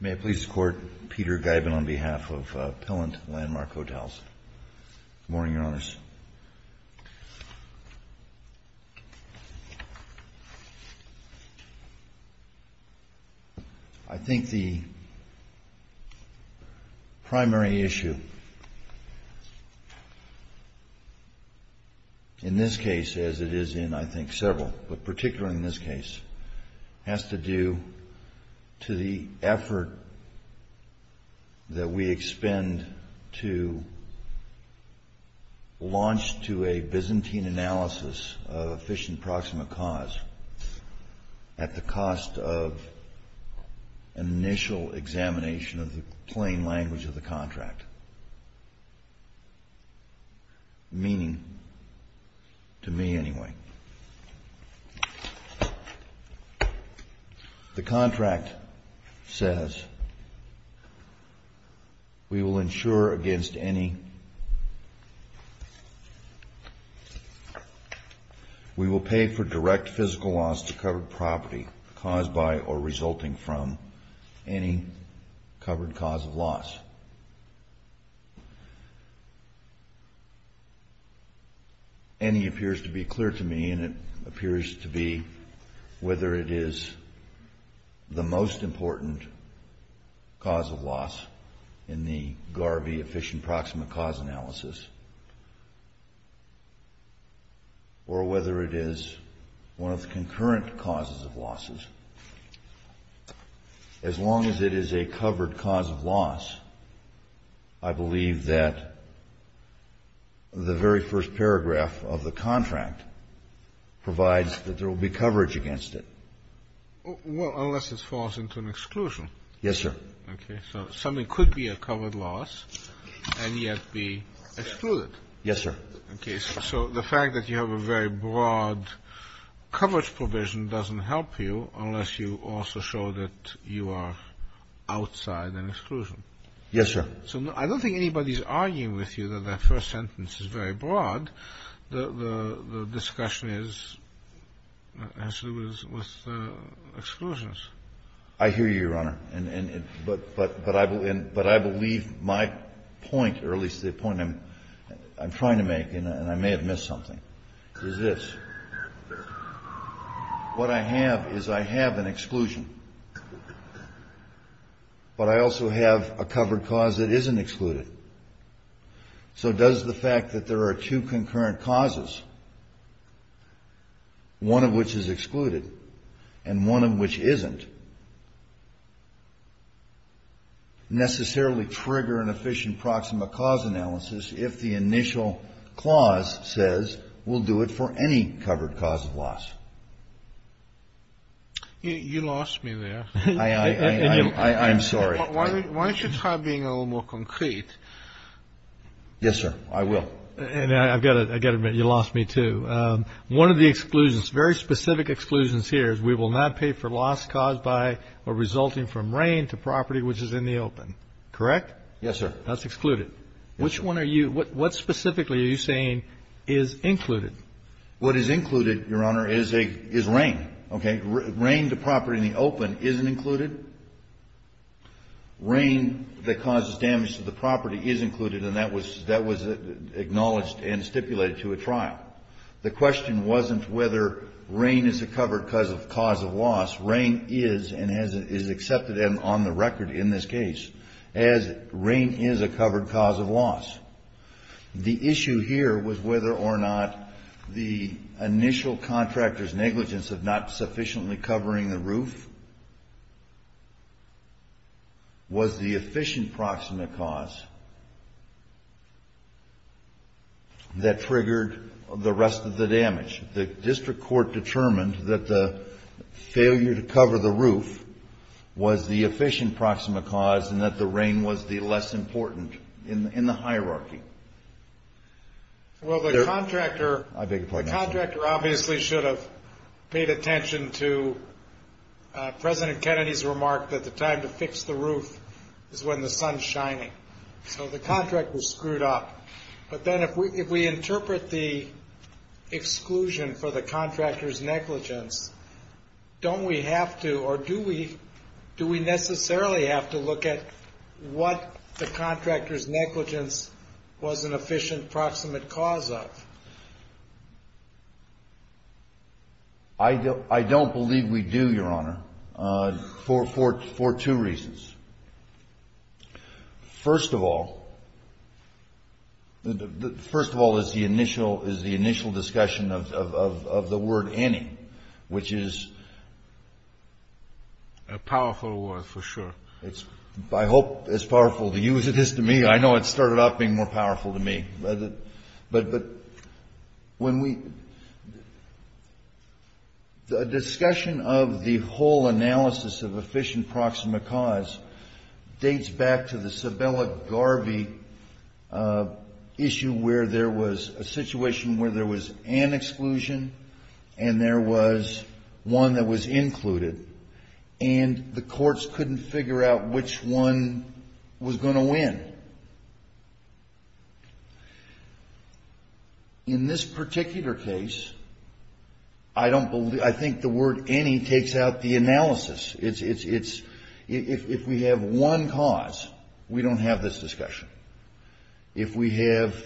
May I please court Peter Giben on behalf of Pellant Landmark Hotels. Good morning, Your Honors. I think the primary issue in this case, as it is in I think several, but particularly in this case, has to do to the effort that we expend to launch to a Byzantine analysis of efficient proximate cause at the cost of initial examination of the plain language of the contract, meaning, to me anyway. The contract says we will pay for direct physical loss to covered losses. And it appears to be clear to me, and it appears to be, whether it is the most important cause of loss in the Garvey efficient proximate cause analysis, or whether it is one of the concurrent causes of losses, as long as it is a covered cause of loss, I believe that the very first paragraph of the contract provides that there will be coverage against it. Well, unless it falls into an exclusion. Yes, sir. Okay. So something could be a covered loss and yet be excluded. Yes, sir. Okay. So the fact that you have a very broad coverage provision doesn't help you unless you also show that you are outside an exclusion. Yes, sir. So I don't think anybody is arguing with you that that first sentence is very broad. The discussion has to do with exclusions. I hear you, Your Honor. But I believe my point, or at least the point I'm trying to make, and I may have missed something, is this. What I have is I have an exclusion, but I also have a covered cause that isn't excluded. So does the fact that there are two concurrent causes, one of which is excluded and one of which isn't, necessarily trigger an efficient proximate cause analysis if the initial clause says we'll do it for any covered cause of loss. You lost me there. I'm sorry. Why don't you try being a little more concrete? Yes, sir. I will. And I've got to admit, you lost me, too. One of the exclusions, very specific exclusions here, is we will not pay for loss caused by or resulting from rain to property which is in the open. Correct? Yes, sir. That's excluded. Which one are you – what specifically are you saying is included? What is included, Your Honor, is a – is rain. Okay? Rain to property in the open isn't included. Rain that causes damage to the property is included, and that was – that was acknowledged and stipulated to a trial. The question wasn't whether rain is a covered cause of loss. Rain is and is accepted on the record in this case as rain is a covered cause of loss. The issue here was whether or not the initial contractor's negligence of not sufficiently covering the roof was the efficient proximate cause that triggered the rest of the damage. The district court determined that the failure to cover the roof was the efficient proximate cause and that the rain was the less important in the hierarchy. Well, the contractor – I beg your pardon, Your Honor. The contractor obviously should have paid attention to President Kennedy's remark that the time to fix the roof is when the sun's shining. So the contractor screwed up. But then if we – if we interpret the exclusion for the contractor's negligence, don't we have to – or do we – do we necessarily have to look at what the contractor's negligence was an efficient proximate cause of? I don't believe we do, Your Honor, for two reasons. First of all, first of all is the initial discussion of the word any, which is a powerful word for sure. It's, I hope, as powerful to you as it is to me. I know it started off being more powerful to me. But when we – the discussion of the whole analysis of efficient proximate cause dates back to the Sabella-Garvey issue where there was a situation where there was an exclusion and there was one that was included, and the courts couldn't figure out which one was going to win. In this particular case, I don't believe – I think the word any takes out the analysis. It's – if we have one cause, we don't have this discussion. If we have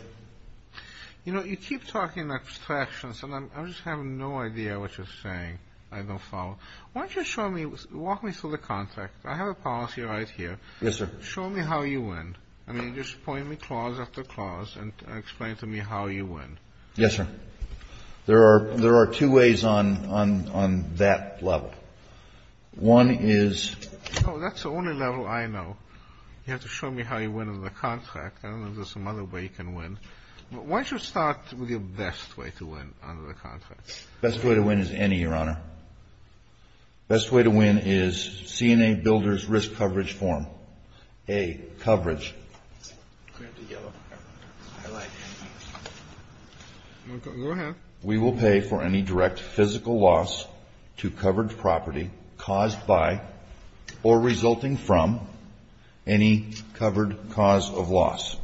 – You know, you keep talking about distractions, and I just have no idea what you're saying. I don't follow. Why don't you show me – walk me through the contract. I have a policy right here. Yes, sir. Show me how you win. I mean, just point me clause after clause and explain to me how you win. Yes, sir. There are two ways on that level. One is – Oh, that's the only level I know. You have to show me how you win on the contract. I don't know if there's some other way you can win. Why don't you start with your best way to win under the contract? The best way to win is any, Your Honor. The best way to win is CNA Builder's Risk Coverage Form. A, coverage. Go ahead. We will pay for any direct physical loss to covered property caused by or resulting from any covered cause of loss.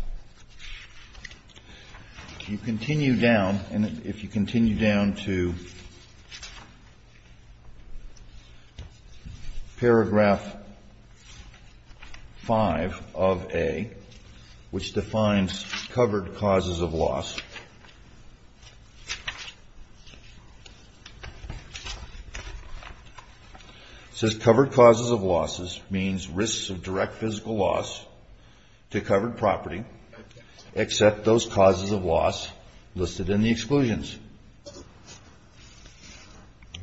You continue down, and if you continue down to paragraph 5 of A, which defines covered causes of loss. It says covered causes of losses means risks of direct physical loss to covered property except those causes of loss listed in the exclusions.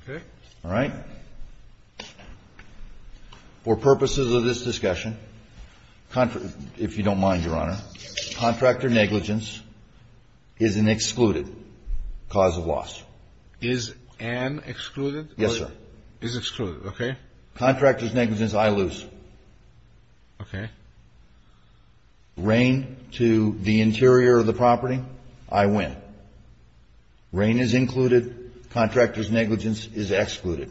Okay. All right. For purposes of this discussion, if you don't mind, Your Honor, contractor negligence is an excluded cause of loss. Is an excluded? Yes, sir. Is excluded. Okay. Contractor's negligence, I lose. Okay. Rain to the interior of the property, I win. Rain is included. Contractor's negligence is excluded.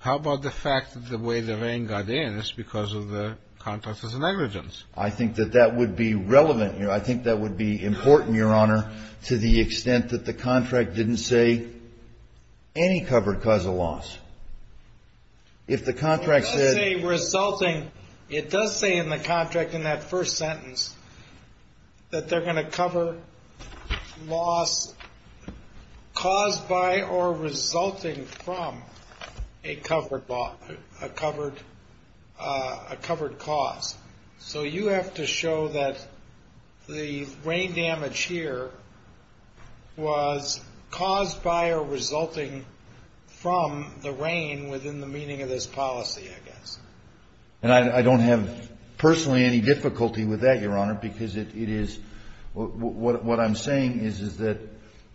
How about the fact that the way the rain got in is because of the contractor's negligence? I think that that would be relevant. I think that would be important, Your Honor, to the extent that the contract didn't say any covered cause of loss. It does say in the contract in that first sentence that they're going to cover loss caused by or resulting from a covered cause. So you have to show that the rain damage here was caused by or resulting from the rain within the meaning of this policy, I guess. And I don't have personally any difficulty with that, Your Honor, because it is what I'm saying is that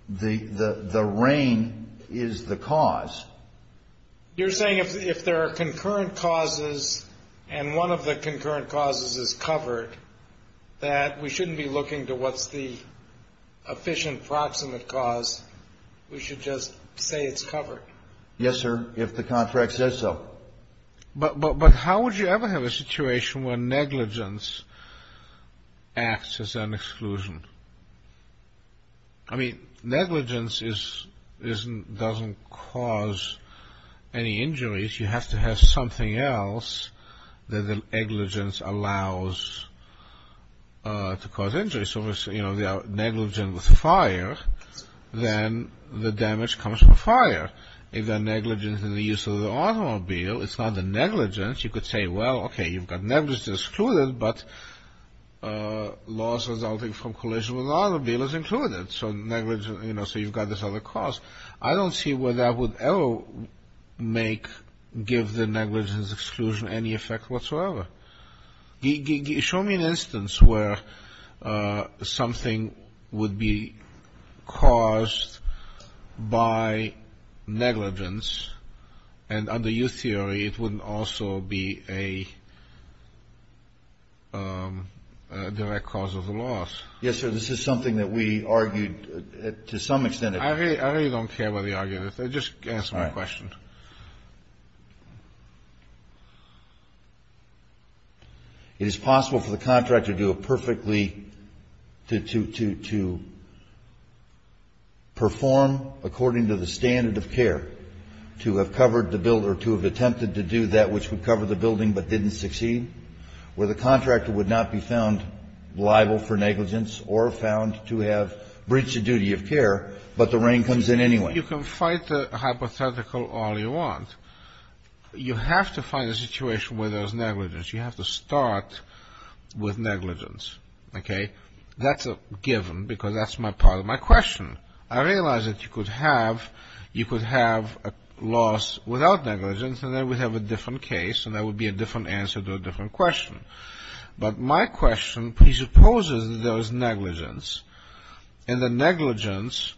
the rain is the cause. You're saying if there are concurrent causes and one of the concurrent causes is covered, that we shouldn't be looking to what's the efficient proximate cause. We should just say it's covered. Yes, sir, if the contract says so. But how would you ever have a situation where negligence acts as an exclusion? I mean, negligence doesn't cause any injuries. You have to have something else that negligence allows to cause injuries. So if they're negligent with fire, then the damage comes from fire. If they're negligent in the use of the automobile, it's not the negligence. You could say, well, okay, you've got negligence excluded, but loss resulting from collision with the automobile is included. So you've got this other cause. I don't see where that would ever give the negligence exclusion any effect whatsoever. Show me an instance where something would be caused by negligence, and under your theory, it wouldn't also be a direct cause of the loss. Yes, sir, this is something that we argued to some extent. I really don't care about the argument. Just answer my question. It is possible for the contractor to do it perfectly, to perform according to the standard of care, to have covered the building or to have attempted to do that which would cover the building but didn't succeed, where the contractor would not be found liable for negligence or found to have breached the duty of care, but the rain comes in anyway. You can fight the hypothetical all you want. You have to find a situation where there's negligence. You have to start with negligence. That's a given, because that's part of my question. I realize that you could have a loss without negligence, and then we'd have a different case, and that would be a different answer to a different question. But my question presupposes that there is negligence, and that negligence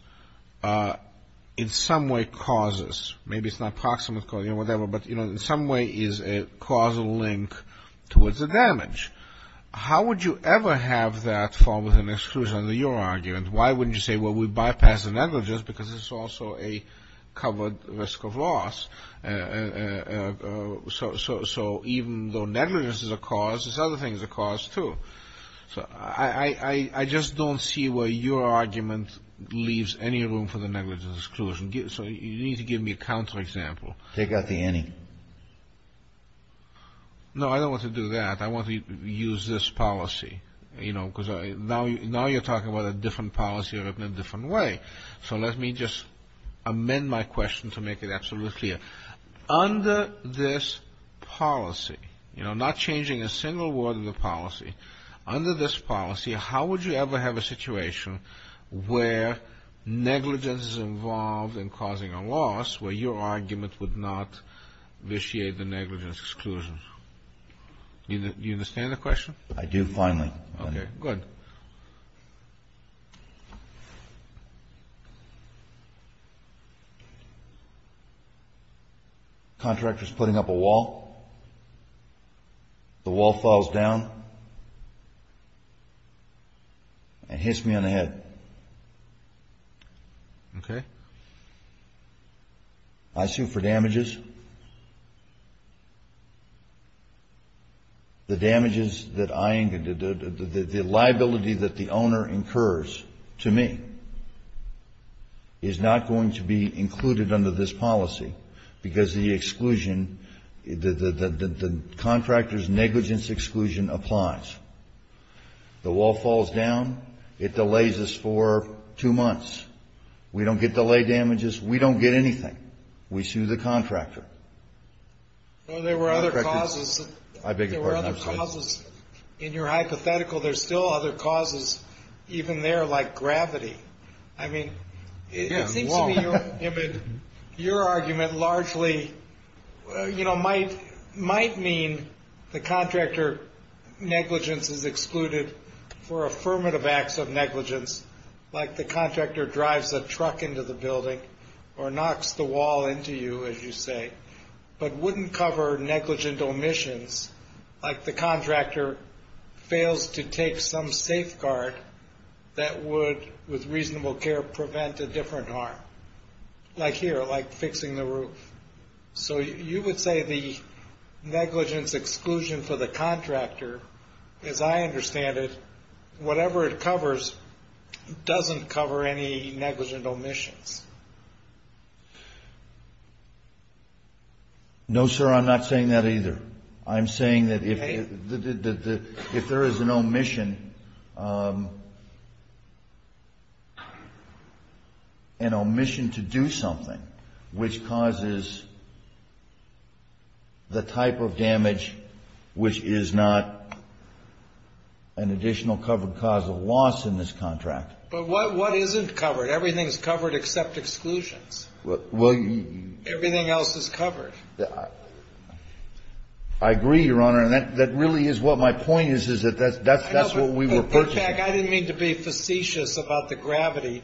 in some way causes. Maybe it's not approximate causing or whatever, but in some way is a causal link towards the damage. How would you ever have that fall within exclusion under your argument? Why wouldn't you say, well, we bypass the negligence because it's also a covered risk of loss. So even though negligence is a cause, this other thing is a cause, too. So I just don't see where your argument leaves any room for the negligence exclusion. So you need to give me a counterexample. Take out the any. No, I don't want to do that. I want to use this policy, because now you're talking about a different policy in a different way. So let me just amend my question to make it absolutely clear. Under this policy, you know, not changing a single word of the policy, under this policy, how would you ever have a situation where negligence is involved in causing a loss where your argument would not vitiate the negligence exclusion? Do you understand the question? I do, finally. Okay, good. Contractor's putting up a wall. The wall falls down and hits me on the head. Okay. I sue for damages. The damages that I, the liability that the owner incurs to me is not going to be included under this policy, because the exclusion, the contractor's negligence exclusion applies. The wall falls down. It delays us for two months. We don't get delay damages. We don't get anything. We sue the contractor. Well, there were other causes. I beg your pardon. I'm sorry. There were other causes. In your hypothetical, there's still other causes even there, like gravity. I mean, it seems to me your argument largely, you know, might mean the contractor negligence is excluded for affirmative acts of negligence, like the contractor drives a truck into the building or knocks the wall into you, as you say, but wouldn't cover negligent omissions like the contractor fails to take some safeguard that would, with reasonable care, prevent a different harm. Like here, like fixing the roof. So you would say the negligence exclusion for the contractor, as I understand it, whatever it covers doesn't cover any negligent omissions. No, sir. I'm not saying that either. I'm saying that if there is an omission, an omission to do something, which causes the type of damage which is not an additional covered cause of loss in this contract. But what isn't covered? Everything is covered except exclusions. Well, you. Everything else is covered. I agree, Your Honor. That really is what my point is, is that that's what we were purchasing. Jack, I didn't mean to be facetious about the gravity,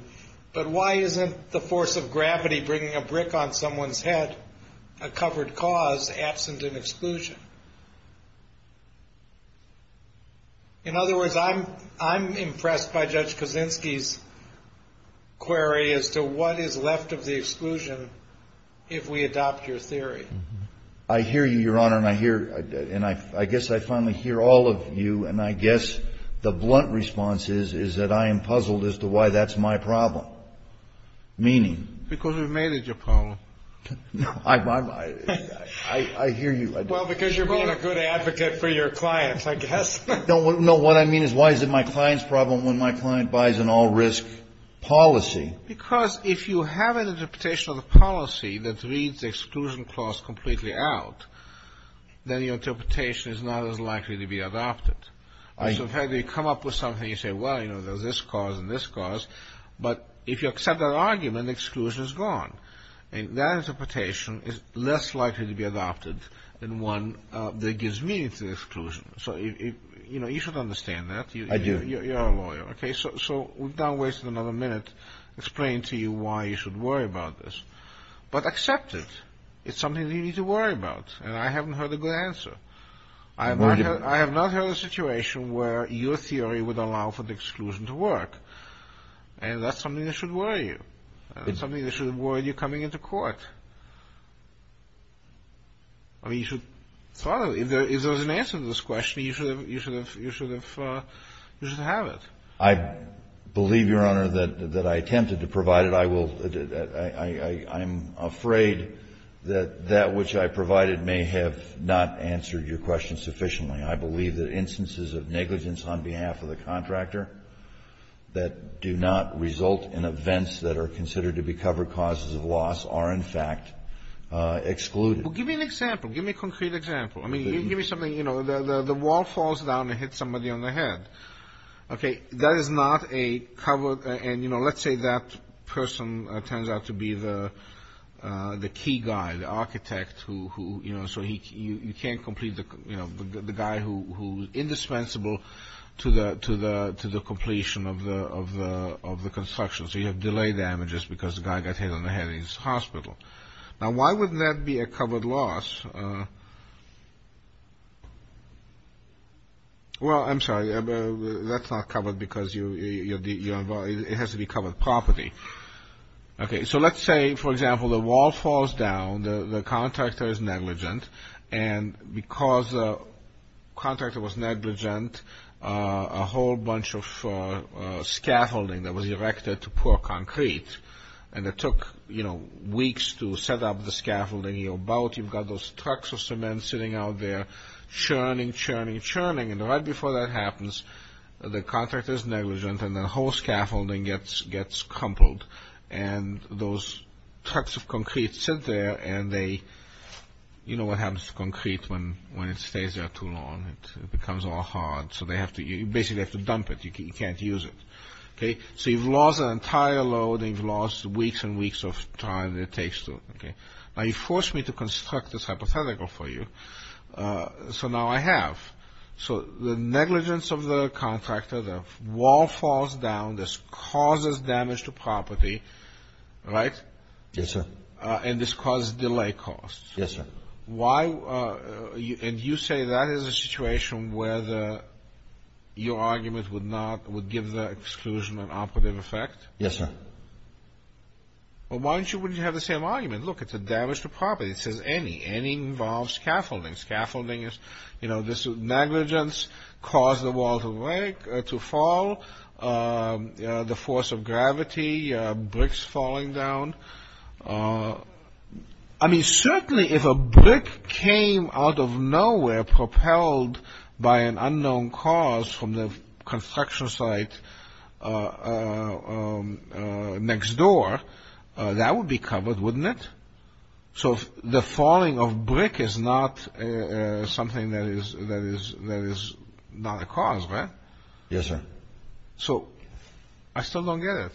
but why isn't the force of gravity bringing a brick on someone's head, a covered cause, absent an exclusion? In other words, I'm impressed by Judge Kaczynski's query as to what is left of the exclusion if we adopt your theory. I hear you, Your Honor, and I hear, and I guess I finally hear all of you, and I guess the blunt response is that I am puzzled as to why that's my problem, meaning. Because we've made it your problem. No, I hear you. Well, because you're being a good advocate for your clients, I guess. No, what I mean is why is it my client's problem when my client buys an all-risk policy? Because if you have an interpretation of the policy that reads the exclusion clause completely out, then your interpretation is not as likely to be adopted. So, in fact, you come up with something, you say, well, you know, there's this cause and this cause, but if you accept that argument, the exclusion is gone. And that interpretation is less likely to be adopted than one that gives meaning to the exclusion. So, you know, you should understand that. I do. You're a lawyer, okay? So, without wasting another minute explaining to you why you should worry about this. But accept it. It's something that you need to worry about. And I haven't heard a good answer. I have not heard a situation where your theory would allow for the exclusion to work. And that's something that should worry you. It's something that should worry you coming into court. I mean, you should follow it. If there's an answer to this question, you should have it. I believe, Your Honor, that I attempted to provide it. I will. I'm afraid that that which I provided may have not answered your question sufficiently. I believe that instances of negligence on behalf of the contractor that do not result in events that are considered to be covered causes of loss are, in fact, excluded. Well, give me an example. Give me a concrete example. I mean, give me something. You know, the wall falls down and hits somebody on the head. Okay. That is not a covered. And, you know, let's say that person turns out to be the key guy, the architect who, you know, so you can't complete the guy who's indispensable to the completion of the construction. So you have delay damages because the guy got hit on the head in his hospital. Now, why would that be a covered loss? Well, I'm sorry. That's not covered because it has to be covered properly. Okay. So let's say, for example, the wall falls down, the contractor is negligent, and because the contractor was negligent, a whole bunch of scaffolding that was erected to poor concrete, and it took, you know, weeks to set up the scaffolding. And you're about, you've got those trucks of cement sitting out there, churning, churning, churning. And right before that happens, the contractor is negligent, and the whole scaffolding gets crumpled. And those trucks of concrete sit there, and they, you know what happens to concrete when it stays there too long. It becomes all hard. So they have to, you basically have to dump it. You can't use it. Okay. So you've lost an entire load, and you've lost weeks and weeks of time that it takes to, okay. Now you forced me to construct this hypothetical for you. So now I have. So the negligence of the contractor, the wall falls down, this causes damage to property, right? Yes, sir. And this causes delay costs. Yes, sir. Why, and you say that is a situation where your argument would not, would give the exclusion an operative effect? Yes, sir. Well, why don't you, wouldn't you have the same argument? Look, it's a damage to property. It says any. Any involves scaffolding. Scaffolding is, you know, this negligence caused the wall to fall, the force of gravity, bricks falling down. I mean, certainly if a brick came out of nowhere, propelled by an unknown cause from the construction site next door, that would be covered, wouldn't it? So the falling of brick is not something that is not a cause, right? Yes, sir. So I still don't get it.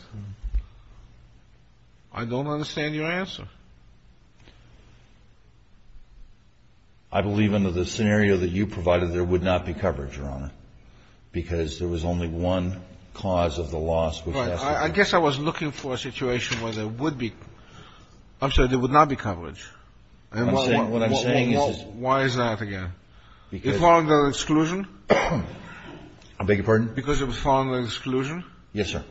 I don't understand your answer. I believe under the scenario that you provided, there would not be coverage, Your Honor, because there was only one cause of the loss. Right. I guess I was looking for a situation where there would be, I'm sorry, there would not be coverage. What I'm saying is... Why is that again? Because... It would fall under exclusion? I beg your pardon? Because it would fall under exclusion? Yes, sir.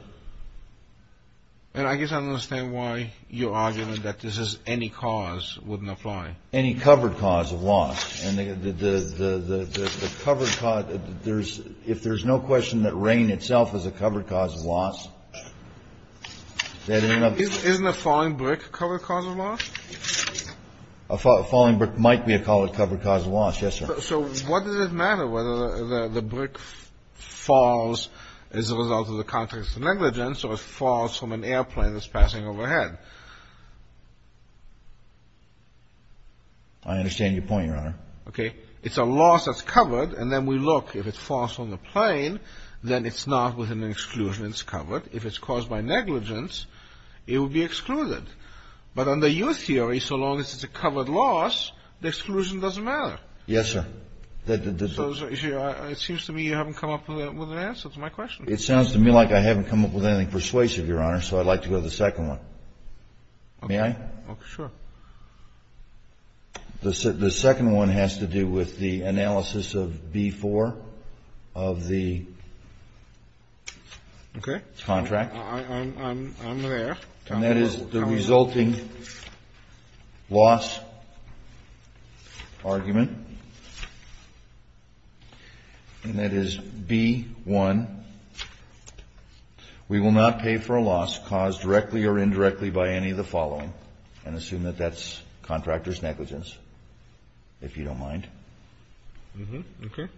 And I guess I don't understand why your argument that this is any cause wouldn't apply. Any covered cause of loss. And the covered cause, if there's no question that rain itself is a covered cause of loss... Isn't a falling brick a covered cause of loss? A falling brick might be a covered cause of loss, yes, sir. So what does it matter whether the brick falls as a result of the context of negligence or it falls from an airplane that's passing overhead? I understand your point, Your Honor. Okay. It's a loss that's covered, and then we look. If it falls from the plane, then it's not within an exclusion. It's covered. If it's caused by negligence, it would be excluded. But under your theory, so long as it's a covered loss, the exclusion doesn't matter. Yes, sir. It seems to me you haven't come up with an answer to my question. It sounds to me like I haven't come up with anything persuasive, Your Honor, so I'd like to go to the second one. May I? Okay. Sure. The second one has to do with the analysis of B-4 of the contract. Okay. I'm there. And that is the resulting loss argument, and that is B-1. We will not pay for a loss caused directly or indirectly by any of the following, and assume that that's contractor's negligence, if you don't mind. Okay.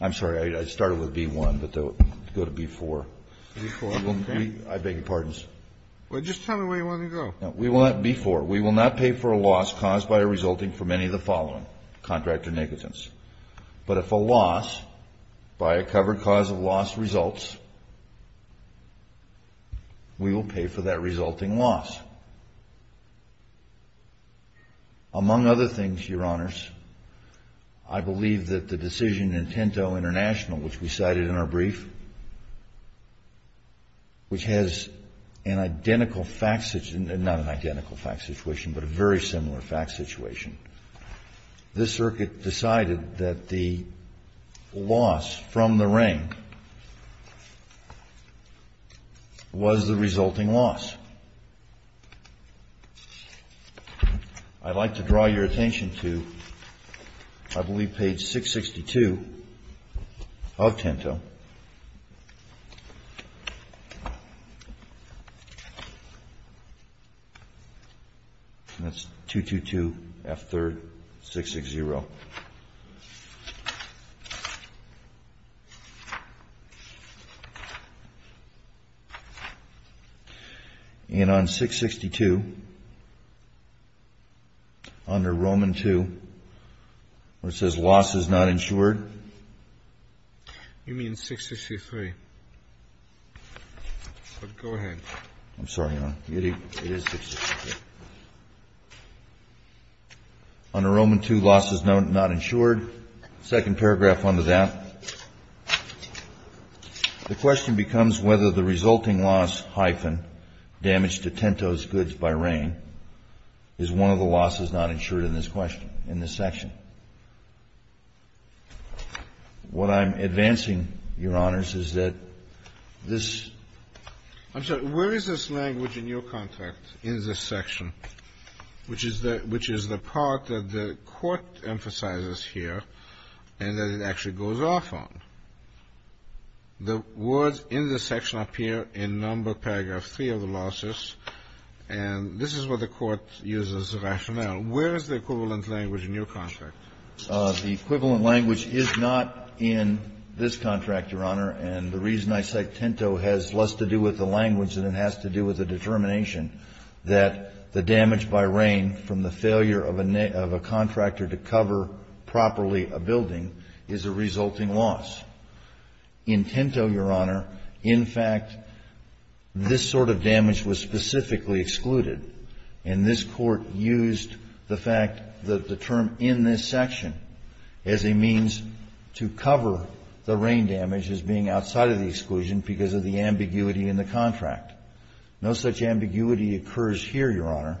I'm sorry. I started with B-1, but go to B-4. B-4, okay. I beg your pardons. Well, just tell me where you want to go. We want B-4. We will not pay for a loss caused by a resulting from any of the following, contractor negligence. But if a loss by a covered cause of loss results, we will pay for that resulting loss. Among other things, Your Honors, I believe that the decision in Tinto International, which we cited in our brief, which has an identical fact situation, not an identical fact situation, but a very similar fact situation. This circuit decided that the loss from the ring was the resulting loss. Now, I'd like to draw your attention to, I believe, page 662 of Tinto. That's 222, F-3rd, 660. And on 662, under Roman II, where it says loss is not insured. You mean 663. Go ahead. I'm sorry, Your Honor. It is 663. Under Roman II, loss is not insured. Second paragraph under that. The question becomes whether the resulting loss, hyphen, damaged to Tinto's goods by rain is one of the losses not insured in this question, in this section. What I'm advancing, Your Honors, is that this – I'm sorry. Where is this language in your contract, in this section, which is the part that the Court emphasizes here and that it actually goes off on? The words in this section appear in number paragraph 3 of the losses, and this is what the Court uses as rationale. Where is the equivalent language in your contract? The equivalent language is not in this contract, Your Honor, and the reason I say Tinto has less to do with the language than it has to do with the determination that the damage by rain from the failure of a contractor to cover properly a building is a resulting loss. In Tinto, Your Honor, in fact, this sort of damage was specifically excluded, and this Court used the fact that the term in this section as a means to cover the rain damage as being outside of the exclusion because of the ambiguity in the contract. No such ambiguity occurs here, Your Honor,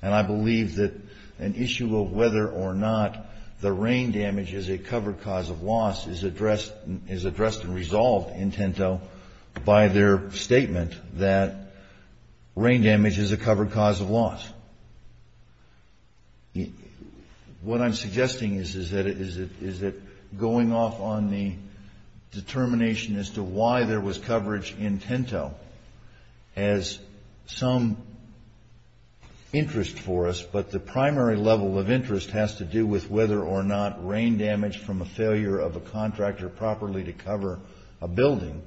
and I believe that an issue of whether or not the rain damage is a covered cause of loss is addressed and resolved in Tinto by their statement that rain damage is a covered cause of loss. What I'm suggesting is that going off on the determination as to why there was coverage in Tinto has some interest for us, but the primary level of interest has to do with whether or not rain damage from a failure of a contractor properly to cover a building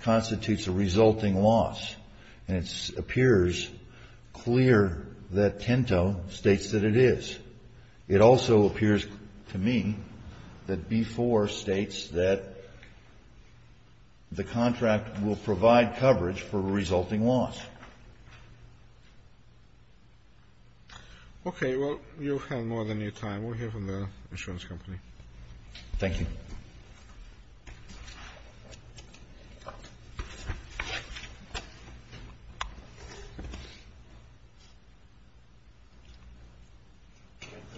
constitutes a resulting loss, and it appears clear that Tinto states that it is. It also appears to me that B-4 states that the contract will provide coverage for a resulting loss. Okay. Well, you have more than your time. We'll hear from the insurance company. Thank you.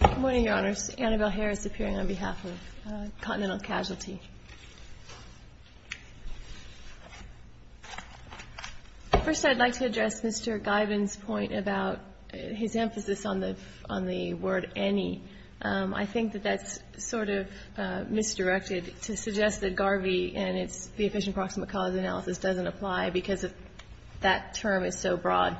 Good morning, Your Honors. Annabelle Harris appearing on behalf of Continental Casualty. First, I'd like to address Mr. Guyven's point about his emphasis on the word any. I think that that's sort of misdirected to suggest that Garvey and its Efficient Proximate Cause Analysis doesn't apply because that term is so broad.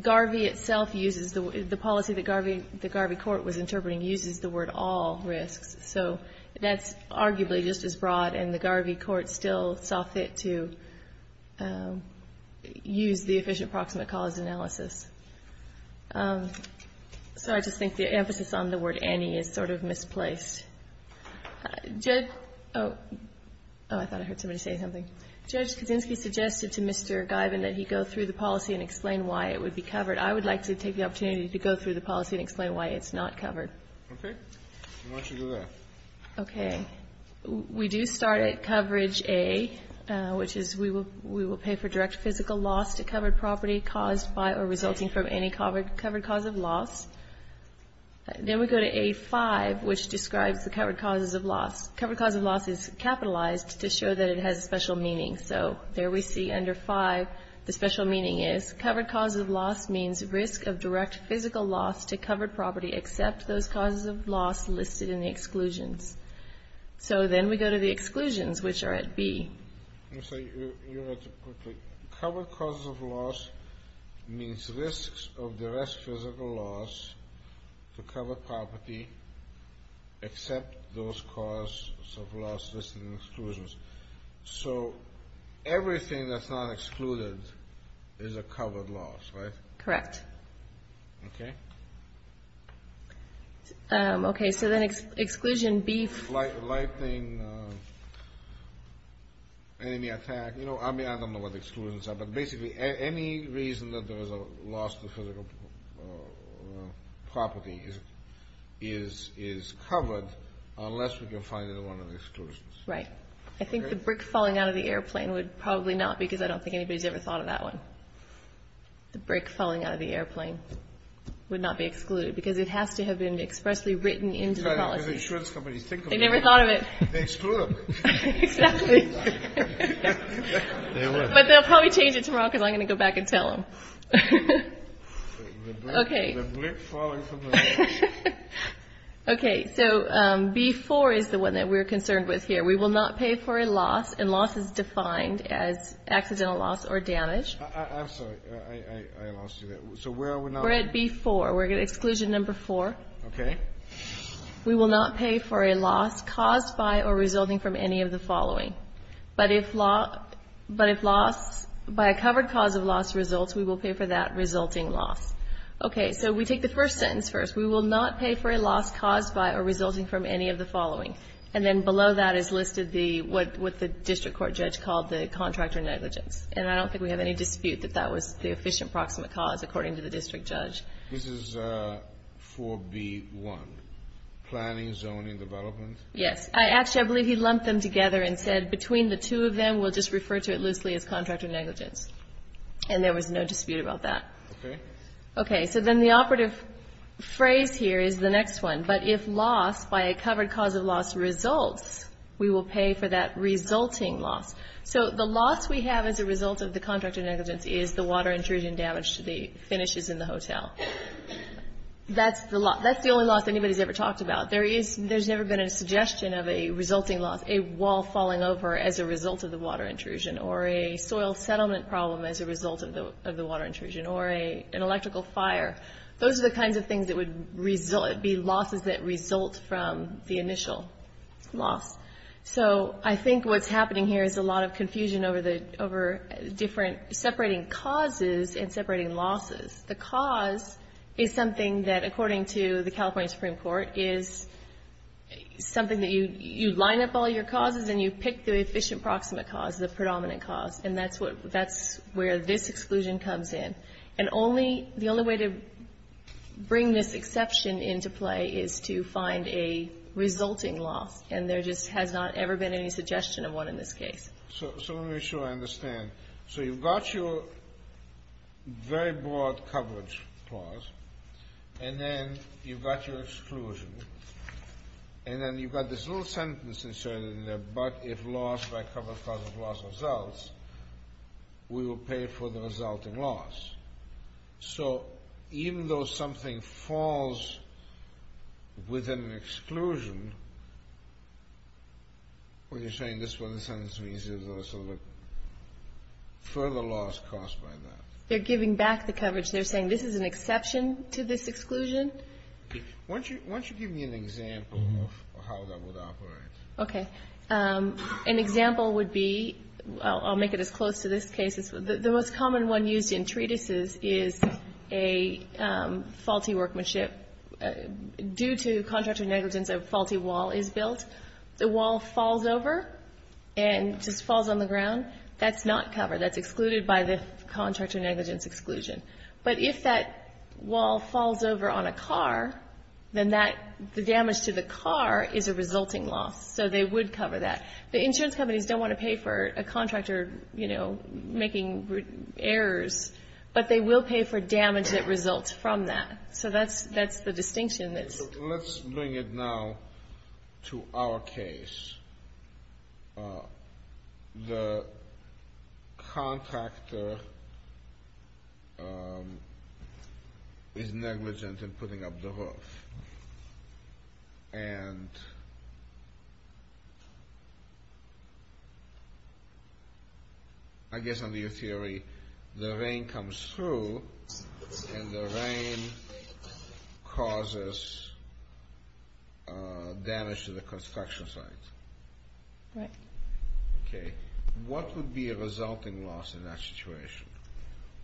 Garvey itself uses the policy that Garvey Court was interpreting uses the word all risks. So that's arguably just as broad, and the Garvey Court still saw fit to use the Efficient Proximate Cause Analysis. So I just think the emphasis on the word any is sort of misplaced. Oh, I thought I heard somebody say something. Judge Kaczynski suggested to Mr. Guyven that he go through the policy and explain why it would be covered. I would like to take the opportunity to go through the policy and explain why it's not covered. Okay. Why don't you do that? Okay. We do start at coverage A, which is we will pay for direct physical loss to covered property caused by or resulting from any covered cause of loss. Then we go to A5, which describes the covered causes of loss. Covered cause of loss is capitalized to show that it has a special meaning. So there we see under 5 the special meaning is covered cause of loss means risk of direct physical loss to covered property except those causes of loss listed in the exclusions. So then we go to the exclusions, which are at B. Let me say your answer quickly. Covered cause of loss means risks of direct physical loss to covered property except those causes of loss listed in exclusions. So everything that's not excluded is a covered loss, right? Correct. Okay. Okay. So then exclusion B. Lightning, enemy attack. You know, I mean, I don't know what exclusions are, but basically any reason that there was a loss to physical property is covered unless we can find another one of the exclusions. Right. I think the brick falling out of the airplane would probably not because I don't think anybody's ever thought of that one. The brick falling out of the airplane would not be excluded because it has to have been expressly written into the policy. What does insurance companies think of that? They never thought of it. They exclude them. Exactly. But they'll probably change it tomorrow because I'm going to go back and tell them. Okay. Okay. So B4 is the one that we're concerned with here. We will not pay for a loss and loss is defined as accidental loss or damage. I'm sorry. I lost you there. So where are we now? We're at B4. We're at exclusion number four. Okay. We will not pay for a loss caused by or resulting from any of the following. But if loss by a covered cause of loss results, we will pay for that resulting loss. Okay. So we take the first sentence first. We will not pay for a loss caused by or resulting from any of the following. And then below that is listed what the district court judge called the contractor negligence. And I don't think we have any dispute that that was the efficient proximate cause according to the district judge. This is 4B1, planning, zoning, development? Yes. Actually, I believe he lumped them together and said between the two of them, we'll just refer to it loosely as contractor negligence. And there was no dispute about that. Okay. Okay. So then the operative phrase here is the next one. But if loss by a covered cause of loss results, we will pay for that resulting loss. So the loss we have as a result of the contractor negligence is the water intrusion damage to the finishes in the hotel. That's the only loss anybody's ever talked about. There's never been a suggestion of a resulting loss, a wall falling over as a result of the water intrusion, or a soil settlement problem as a result of the water intrusion, or an electrical fire. Those are the kinds of things that would be losses that result from the initial loss. So I think what's happening here is a lot of confusion over the different separating causes and separating losses. The cause is something that, according to the California Supreme Court, is something that you line up all your causes and you pick the efficient proximate cause, the predominant cause. And that's where this exclusion comes in. And the only way to bring this exception into play is to find a resulting loss. And there just has not ever been any suggestion of one in this case. So let me make sure I understand. So you've got your very broad coverage clause. And then you've got your exclusion. And then you've got this little sentence inserted in there, but if loss by a covered cause of loss results, we will pay for the resulting loss. So even though something falls within an exclusion, when you're saying this one, the sentence means there's a further loss caused by that. They're giving back the coverage. They're saying this is an exception to this exclusion? Why don't you give me an example of how that would operate? Okay. An example would be, I'll make it as close to this case. The most common one used in treatises is a faulty workmanship. Due to contractor negligence, a faulty wall is built. The wall falls over and just falls on the ground. That's not covered. That's excluded by the contractor negligence exclusion. But if that wall falls over on a car, then the damage to the car is a resulting loss. So they would cover that. The insurance companies don't want to pay for a contractor making errors, but they will pay for damage that results from that. So that's the distinction that's... Let's bring it now to our case. The contractor is negligent in putting up the roof. And I guess under your theory, the rain comes through and the rain causes damage to the construction site. Right. Okay. What would be a resulting loss in that situation?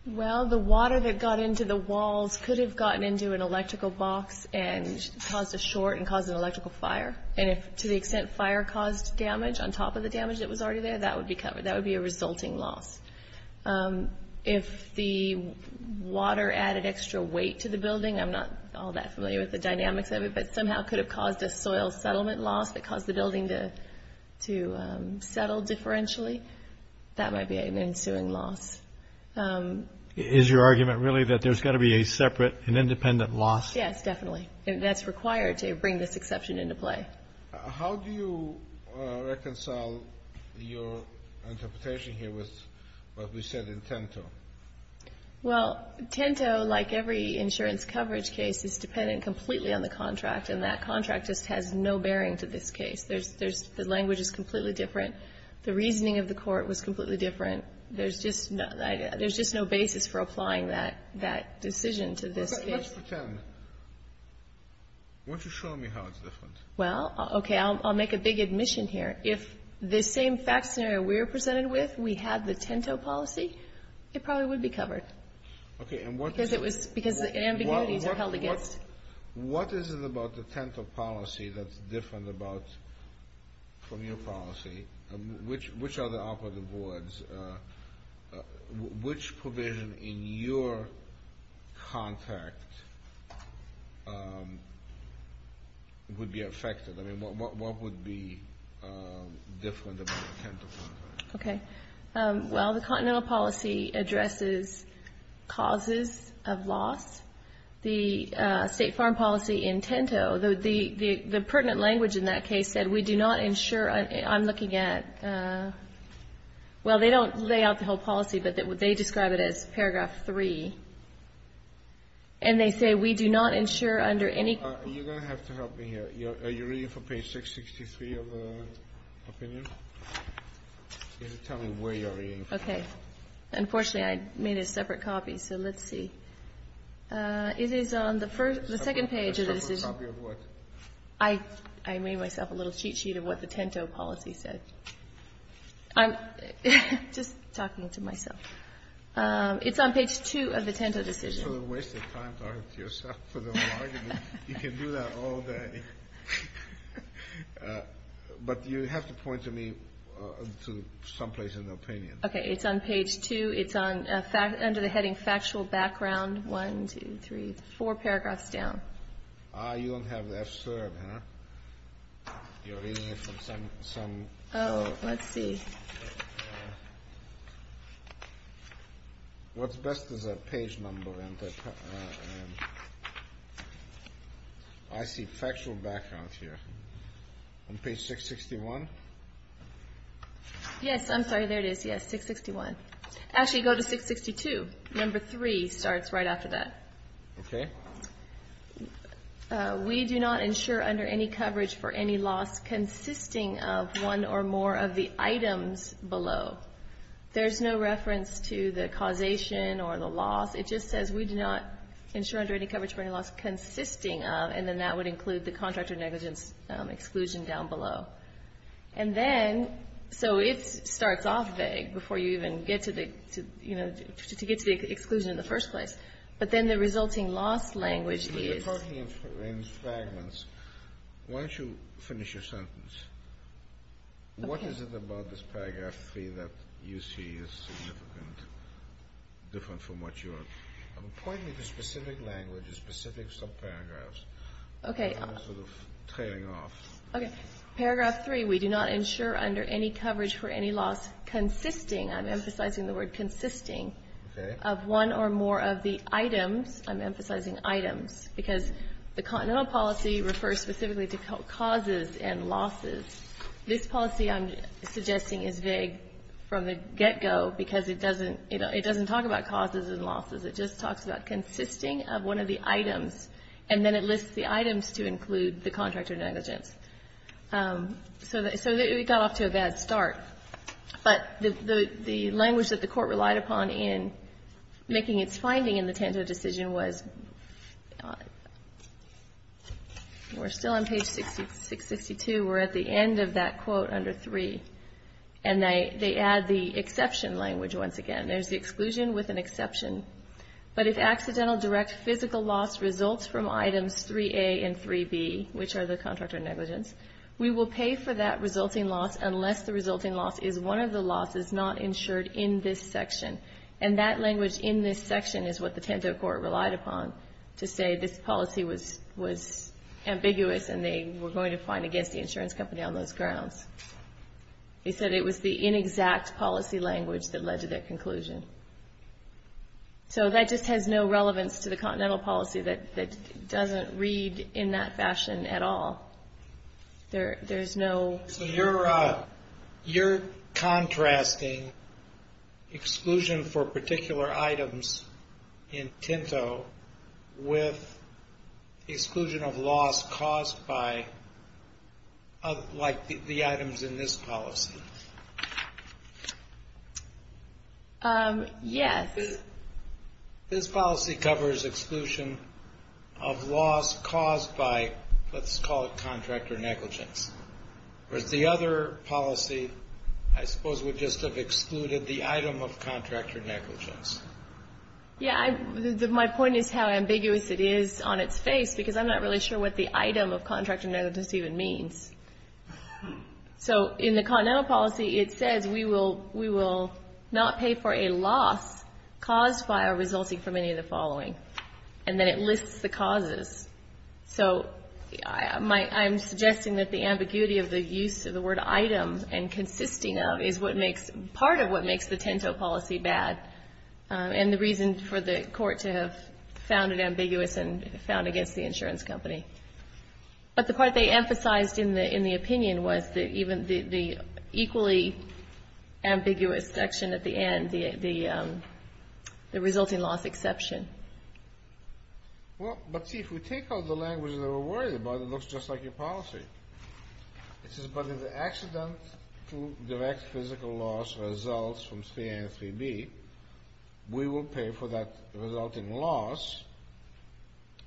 Well, the water that got into the walls could have gotten into an electrical box and caused a short and caused an electrical fire. And to the extent fire caused damage on top of the damage that was already there, that would be a resulting loss. If the water added extra weight to the building, I'm not all that familiar with the dynamics of it, but somehow could have caused a soil settlement loss that caused the building to settle differentially, that might be an ensuing loss. Is your argument really that there's got to be a separate and independent loss? Yes, definitely. That's required to bring this exception into play. How do you reconcile your interpretation here with what we said in Tinto? Well, Tinto, like every insurance coverage case, is dependent completely on the contract, and that contract just has no bearing to this case. The language is completely different. The reasoning of the court was completely different. There's just no basis for applying that decision to this case. Let's pretend. Why don't you show me how it's different? Well, okay, I'll make a big admission here. If the same fact scenario we're presented with, we had the Tinto policy, it probably would be covered. Okay, and what is it? Because the ambiguities are held against. What is it about the Tinto policy that's different from your policy? Which are the operative boards? Which provision in your contract would be affected? I mean, what would be different about the Tinto contract? Okay. Well, the Continental policy addresses causes of loss. The State Farm policy in Tinto, the pertinent language in that case said, we do not ensure, I'm looking at, well, they don't lay out the whole policy, but they describe it as paragraph 3. And they say, we do not ensure under any. You're going to have to help me here. Are you reading from page 663 of the opinion? You have to tell me where you're reading from. Okay. Unfortunately, I made a separate copy, so let's see. It is on the second page of the decision. A separate copy of what? I made myself a little cheat sheet of what the Tinto policy said. I'm just talking to myself. It's on page 2 of the Tinto decision. This is a waste of time talking to yourself for the whole argument. You can do that all day. But you have to point to me to someplace in the opinion. Okay. It's on page 2. It's under the heading factual background. One, two, three, four paragraphs down. Ah, you don't have the F-SERB, huh? You're reading it from some... Oh, let's see. What's best is a page number. I see factual background here. On page 661? Yes, I'm sorry. There it is. Yes, 661. Actually, go to 662. Number 3 starts right after that. Okay. We do not insure under any coverage for any loss consisting of one or more of the items below. There's no reference to the causation or the loss. It just says we do not insure under any coverage for any loss consisting of, and then that would include the contract or negligence exclusion down below. And then, so it starts off vague before you even get to the exclusion in the first place. But then the resulting loss language is... We're talking in fragments. Why don't you finish your sentence? Okay. What is it about this paragraph 3 that you see is significant, different from what you're... Point me to specific languages, specific subparagraphs. Okay. I'm sort of trailing off. Okay. Paragraph 3, we do not insure under any coverage for any loss consisting, I'm emphasizing the word consisting... Okay. ...of one or more of the items. I'm emphasizing items because the Continental Policy refers specifically to causes and losses. This policy I'm suggesting is vague from the get-go because it doesn't, you know, it doesn't talk about causes and losses. It just talks about consisting of one of the items, and then it lists the items to include the contract or negligence. So we got off to a bad start. But the language that the court relied upon in making its finding in the Tanto decision was... We're still on page 662. We're at the end of that quote under 3. And they add the exception language once again. There's the exclusion with an exception. But if accidental direct physical loss results from items 3A and 3B, which are the contract or negligence, we will pay for that resulting loss unless the resulting loss is one of the losses not insured in this section. And that language in this section is what the Tanto Court relied upon to say this policy was ambiguous and they were going to find against the insurance company on those grounds. They said it was the inexact policy language that led to their conclusion. So that just has no relevance to the Continental Policy that doesn't read in that fashion at all. There's no... So you're contrasting exclusion for particular items in Tanto with exclusion of loss caused by like the items in this policy. Yes. This policy covers exclusion of loss caused by, let's call it contractor negligence. Whereas the other policy, I suppose, would just have excluded the item of contractor negligence. Yeah, my point is how ambiguous it is on its face because I'm not really sure what the item of contractor negligence even means. So in the Continental Policy, it says we will not pay for a loss caused by or resulting from any of the following. And then it lists the causes. So I'm suggesting that the ambiguity of the use of the word item and consisting of is part of what makes the Tanto Policy bad and the reason for the Court to have found it ambiguous and found against the insurance company. But the part they emphasized in the opinion was that even the equally ambiguous section at the end, the resulting loss exception. Well, but see, if we take out the language that we're worried about, it looks just like your policy. It says, but if the accident to direct physical loss results from 3A and 3B, we will pay for that resulting loss.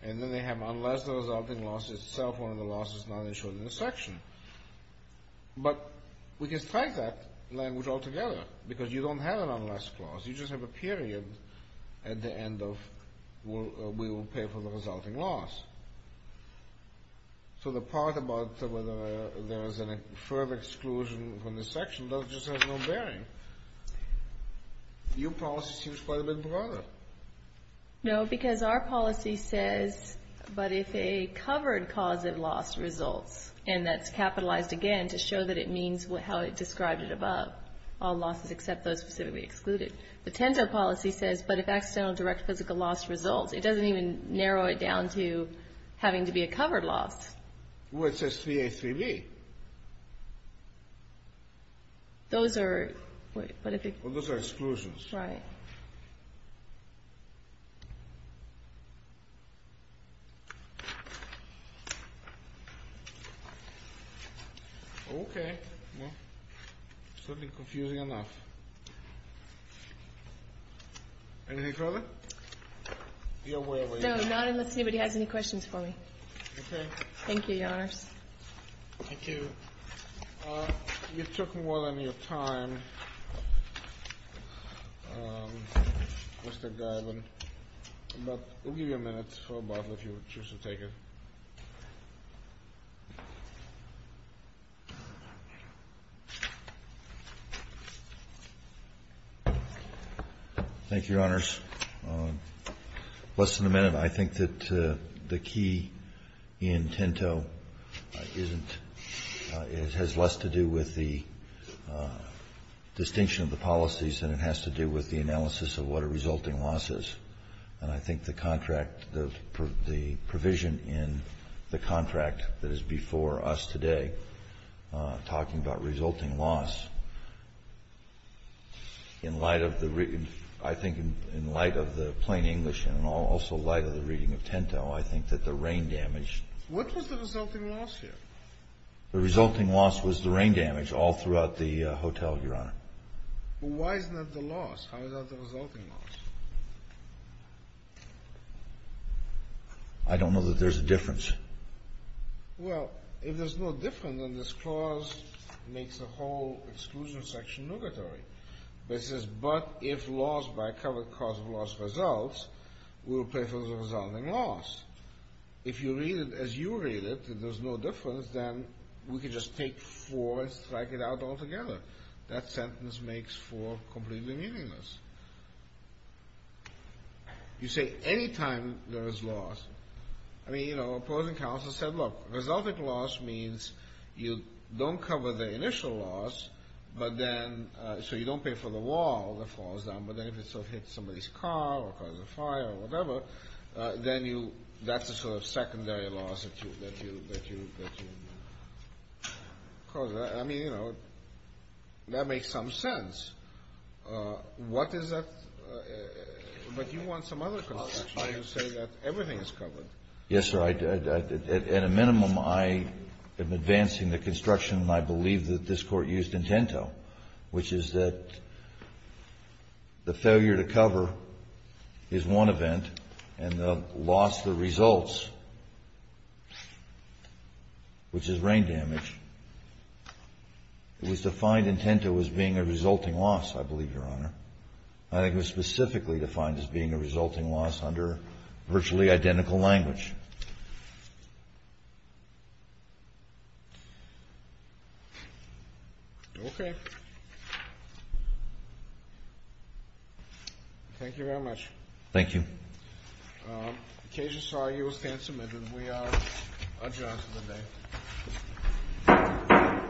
And then they have, unless the resulting loss is self-owned, the loss is not insured in the section. But we can strike that language all together because you don't have an unless clause. You just have a period at the end of we will pay for the resulting loss. So the part about whether there is a further exclusion from the section just has no bearing. Your policy seems quite a bit broader. No, because our policy says, but if a covered cause of loss results, and that's capitalized again to show that it means how it described it above, all losses except those specifically excluded. The TENZO policy says, but if accidental direct physical loss results, it doesn't even narrow it down to having to be a covered loss. Well, it says 3A, 3B. Those are... Well, those are exclusions. Right. Okay. Certainly confusing enough. Anything further? No, not unless anybody has any questions for me. Okay. Thank you, Your Honors. Thank you. You took more than your time. Mr. Gailen. But we'll give you a minute for a bottle if you choose to take it. Thank you, Your Honors. Less than a minute. I think that the key in TENZO isn't, it has less to do with the distinction of the policies than it has to do with the analysis of what a resulting loss is. And I think the contract, the provision in the contract that is before us today, talking about resulting loss, in light of the, I think in light of the plain English and also light of the reading of TENZO, I think that the rain damage... The resulting loss was the rain damage all throughout the hotel, Your Honor. Why is that the loss? How is that the resulting loss? I don't know that there's a difference. Well, if there's no difference, then this clause makes the whole exclusion section notatory. It says, but if loss by a covered cause of loss resolves, we'll pay for the resulting loss. If you read it as you read it, and you think that there's no difference, then we can just take four and strike it out altogether. That sentence makes four completely meaningless. You say any time there is loss, I mean, you know, opposing counsel said, look, resulting loss means you don't cover the initial loss, but then, so you don't pay for the wall that falls down, but then if it sort of hits somebody's car or causes a fire or whatever, then that's a sort of secondary loss that you cause. I mean, you know, that makes some sense. What is that? But you want some other construction. You say that everything is covered. Yes, sir. At a minimum, I am advancing the construction I believe that this Court used in Tinto, which is that the failure to cover is one event, and the loss, the results, which is rain damage, it was defined in Tinto as being a resulting loss, I believe, Your Honor. I think it was specifically defined as being a resulting loss under virtually identical language. Okay. Thank you very much. Thank you. The case is filed. You will stand submitted. We are adjourned for the day.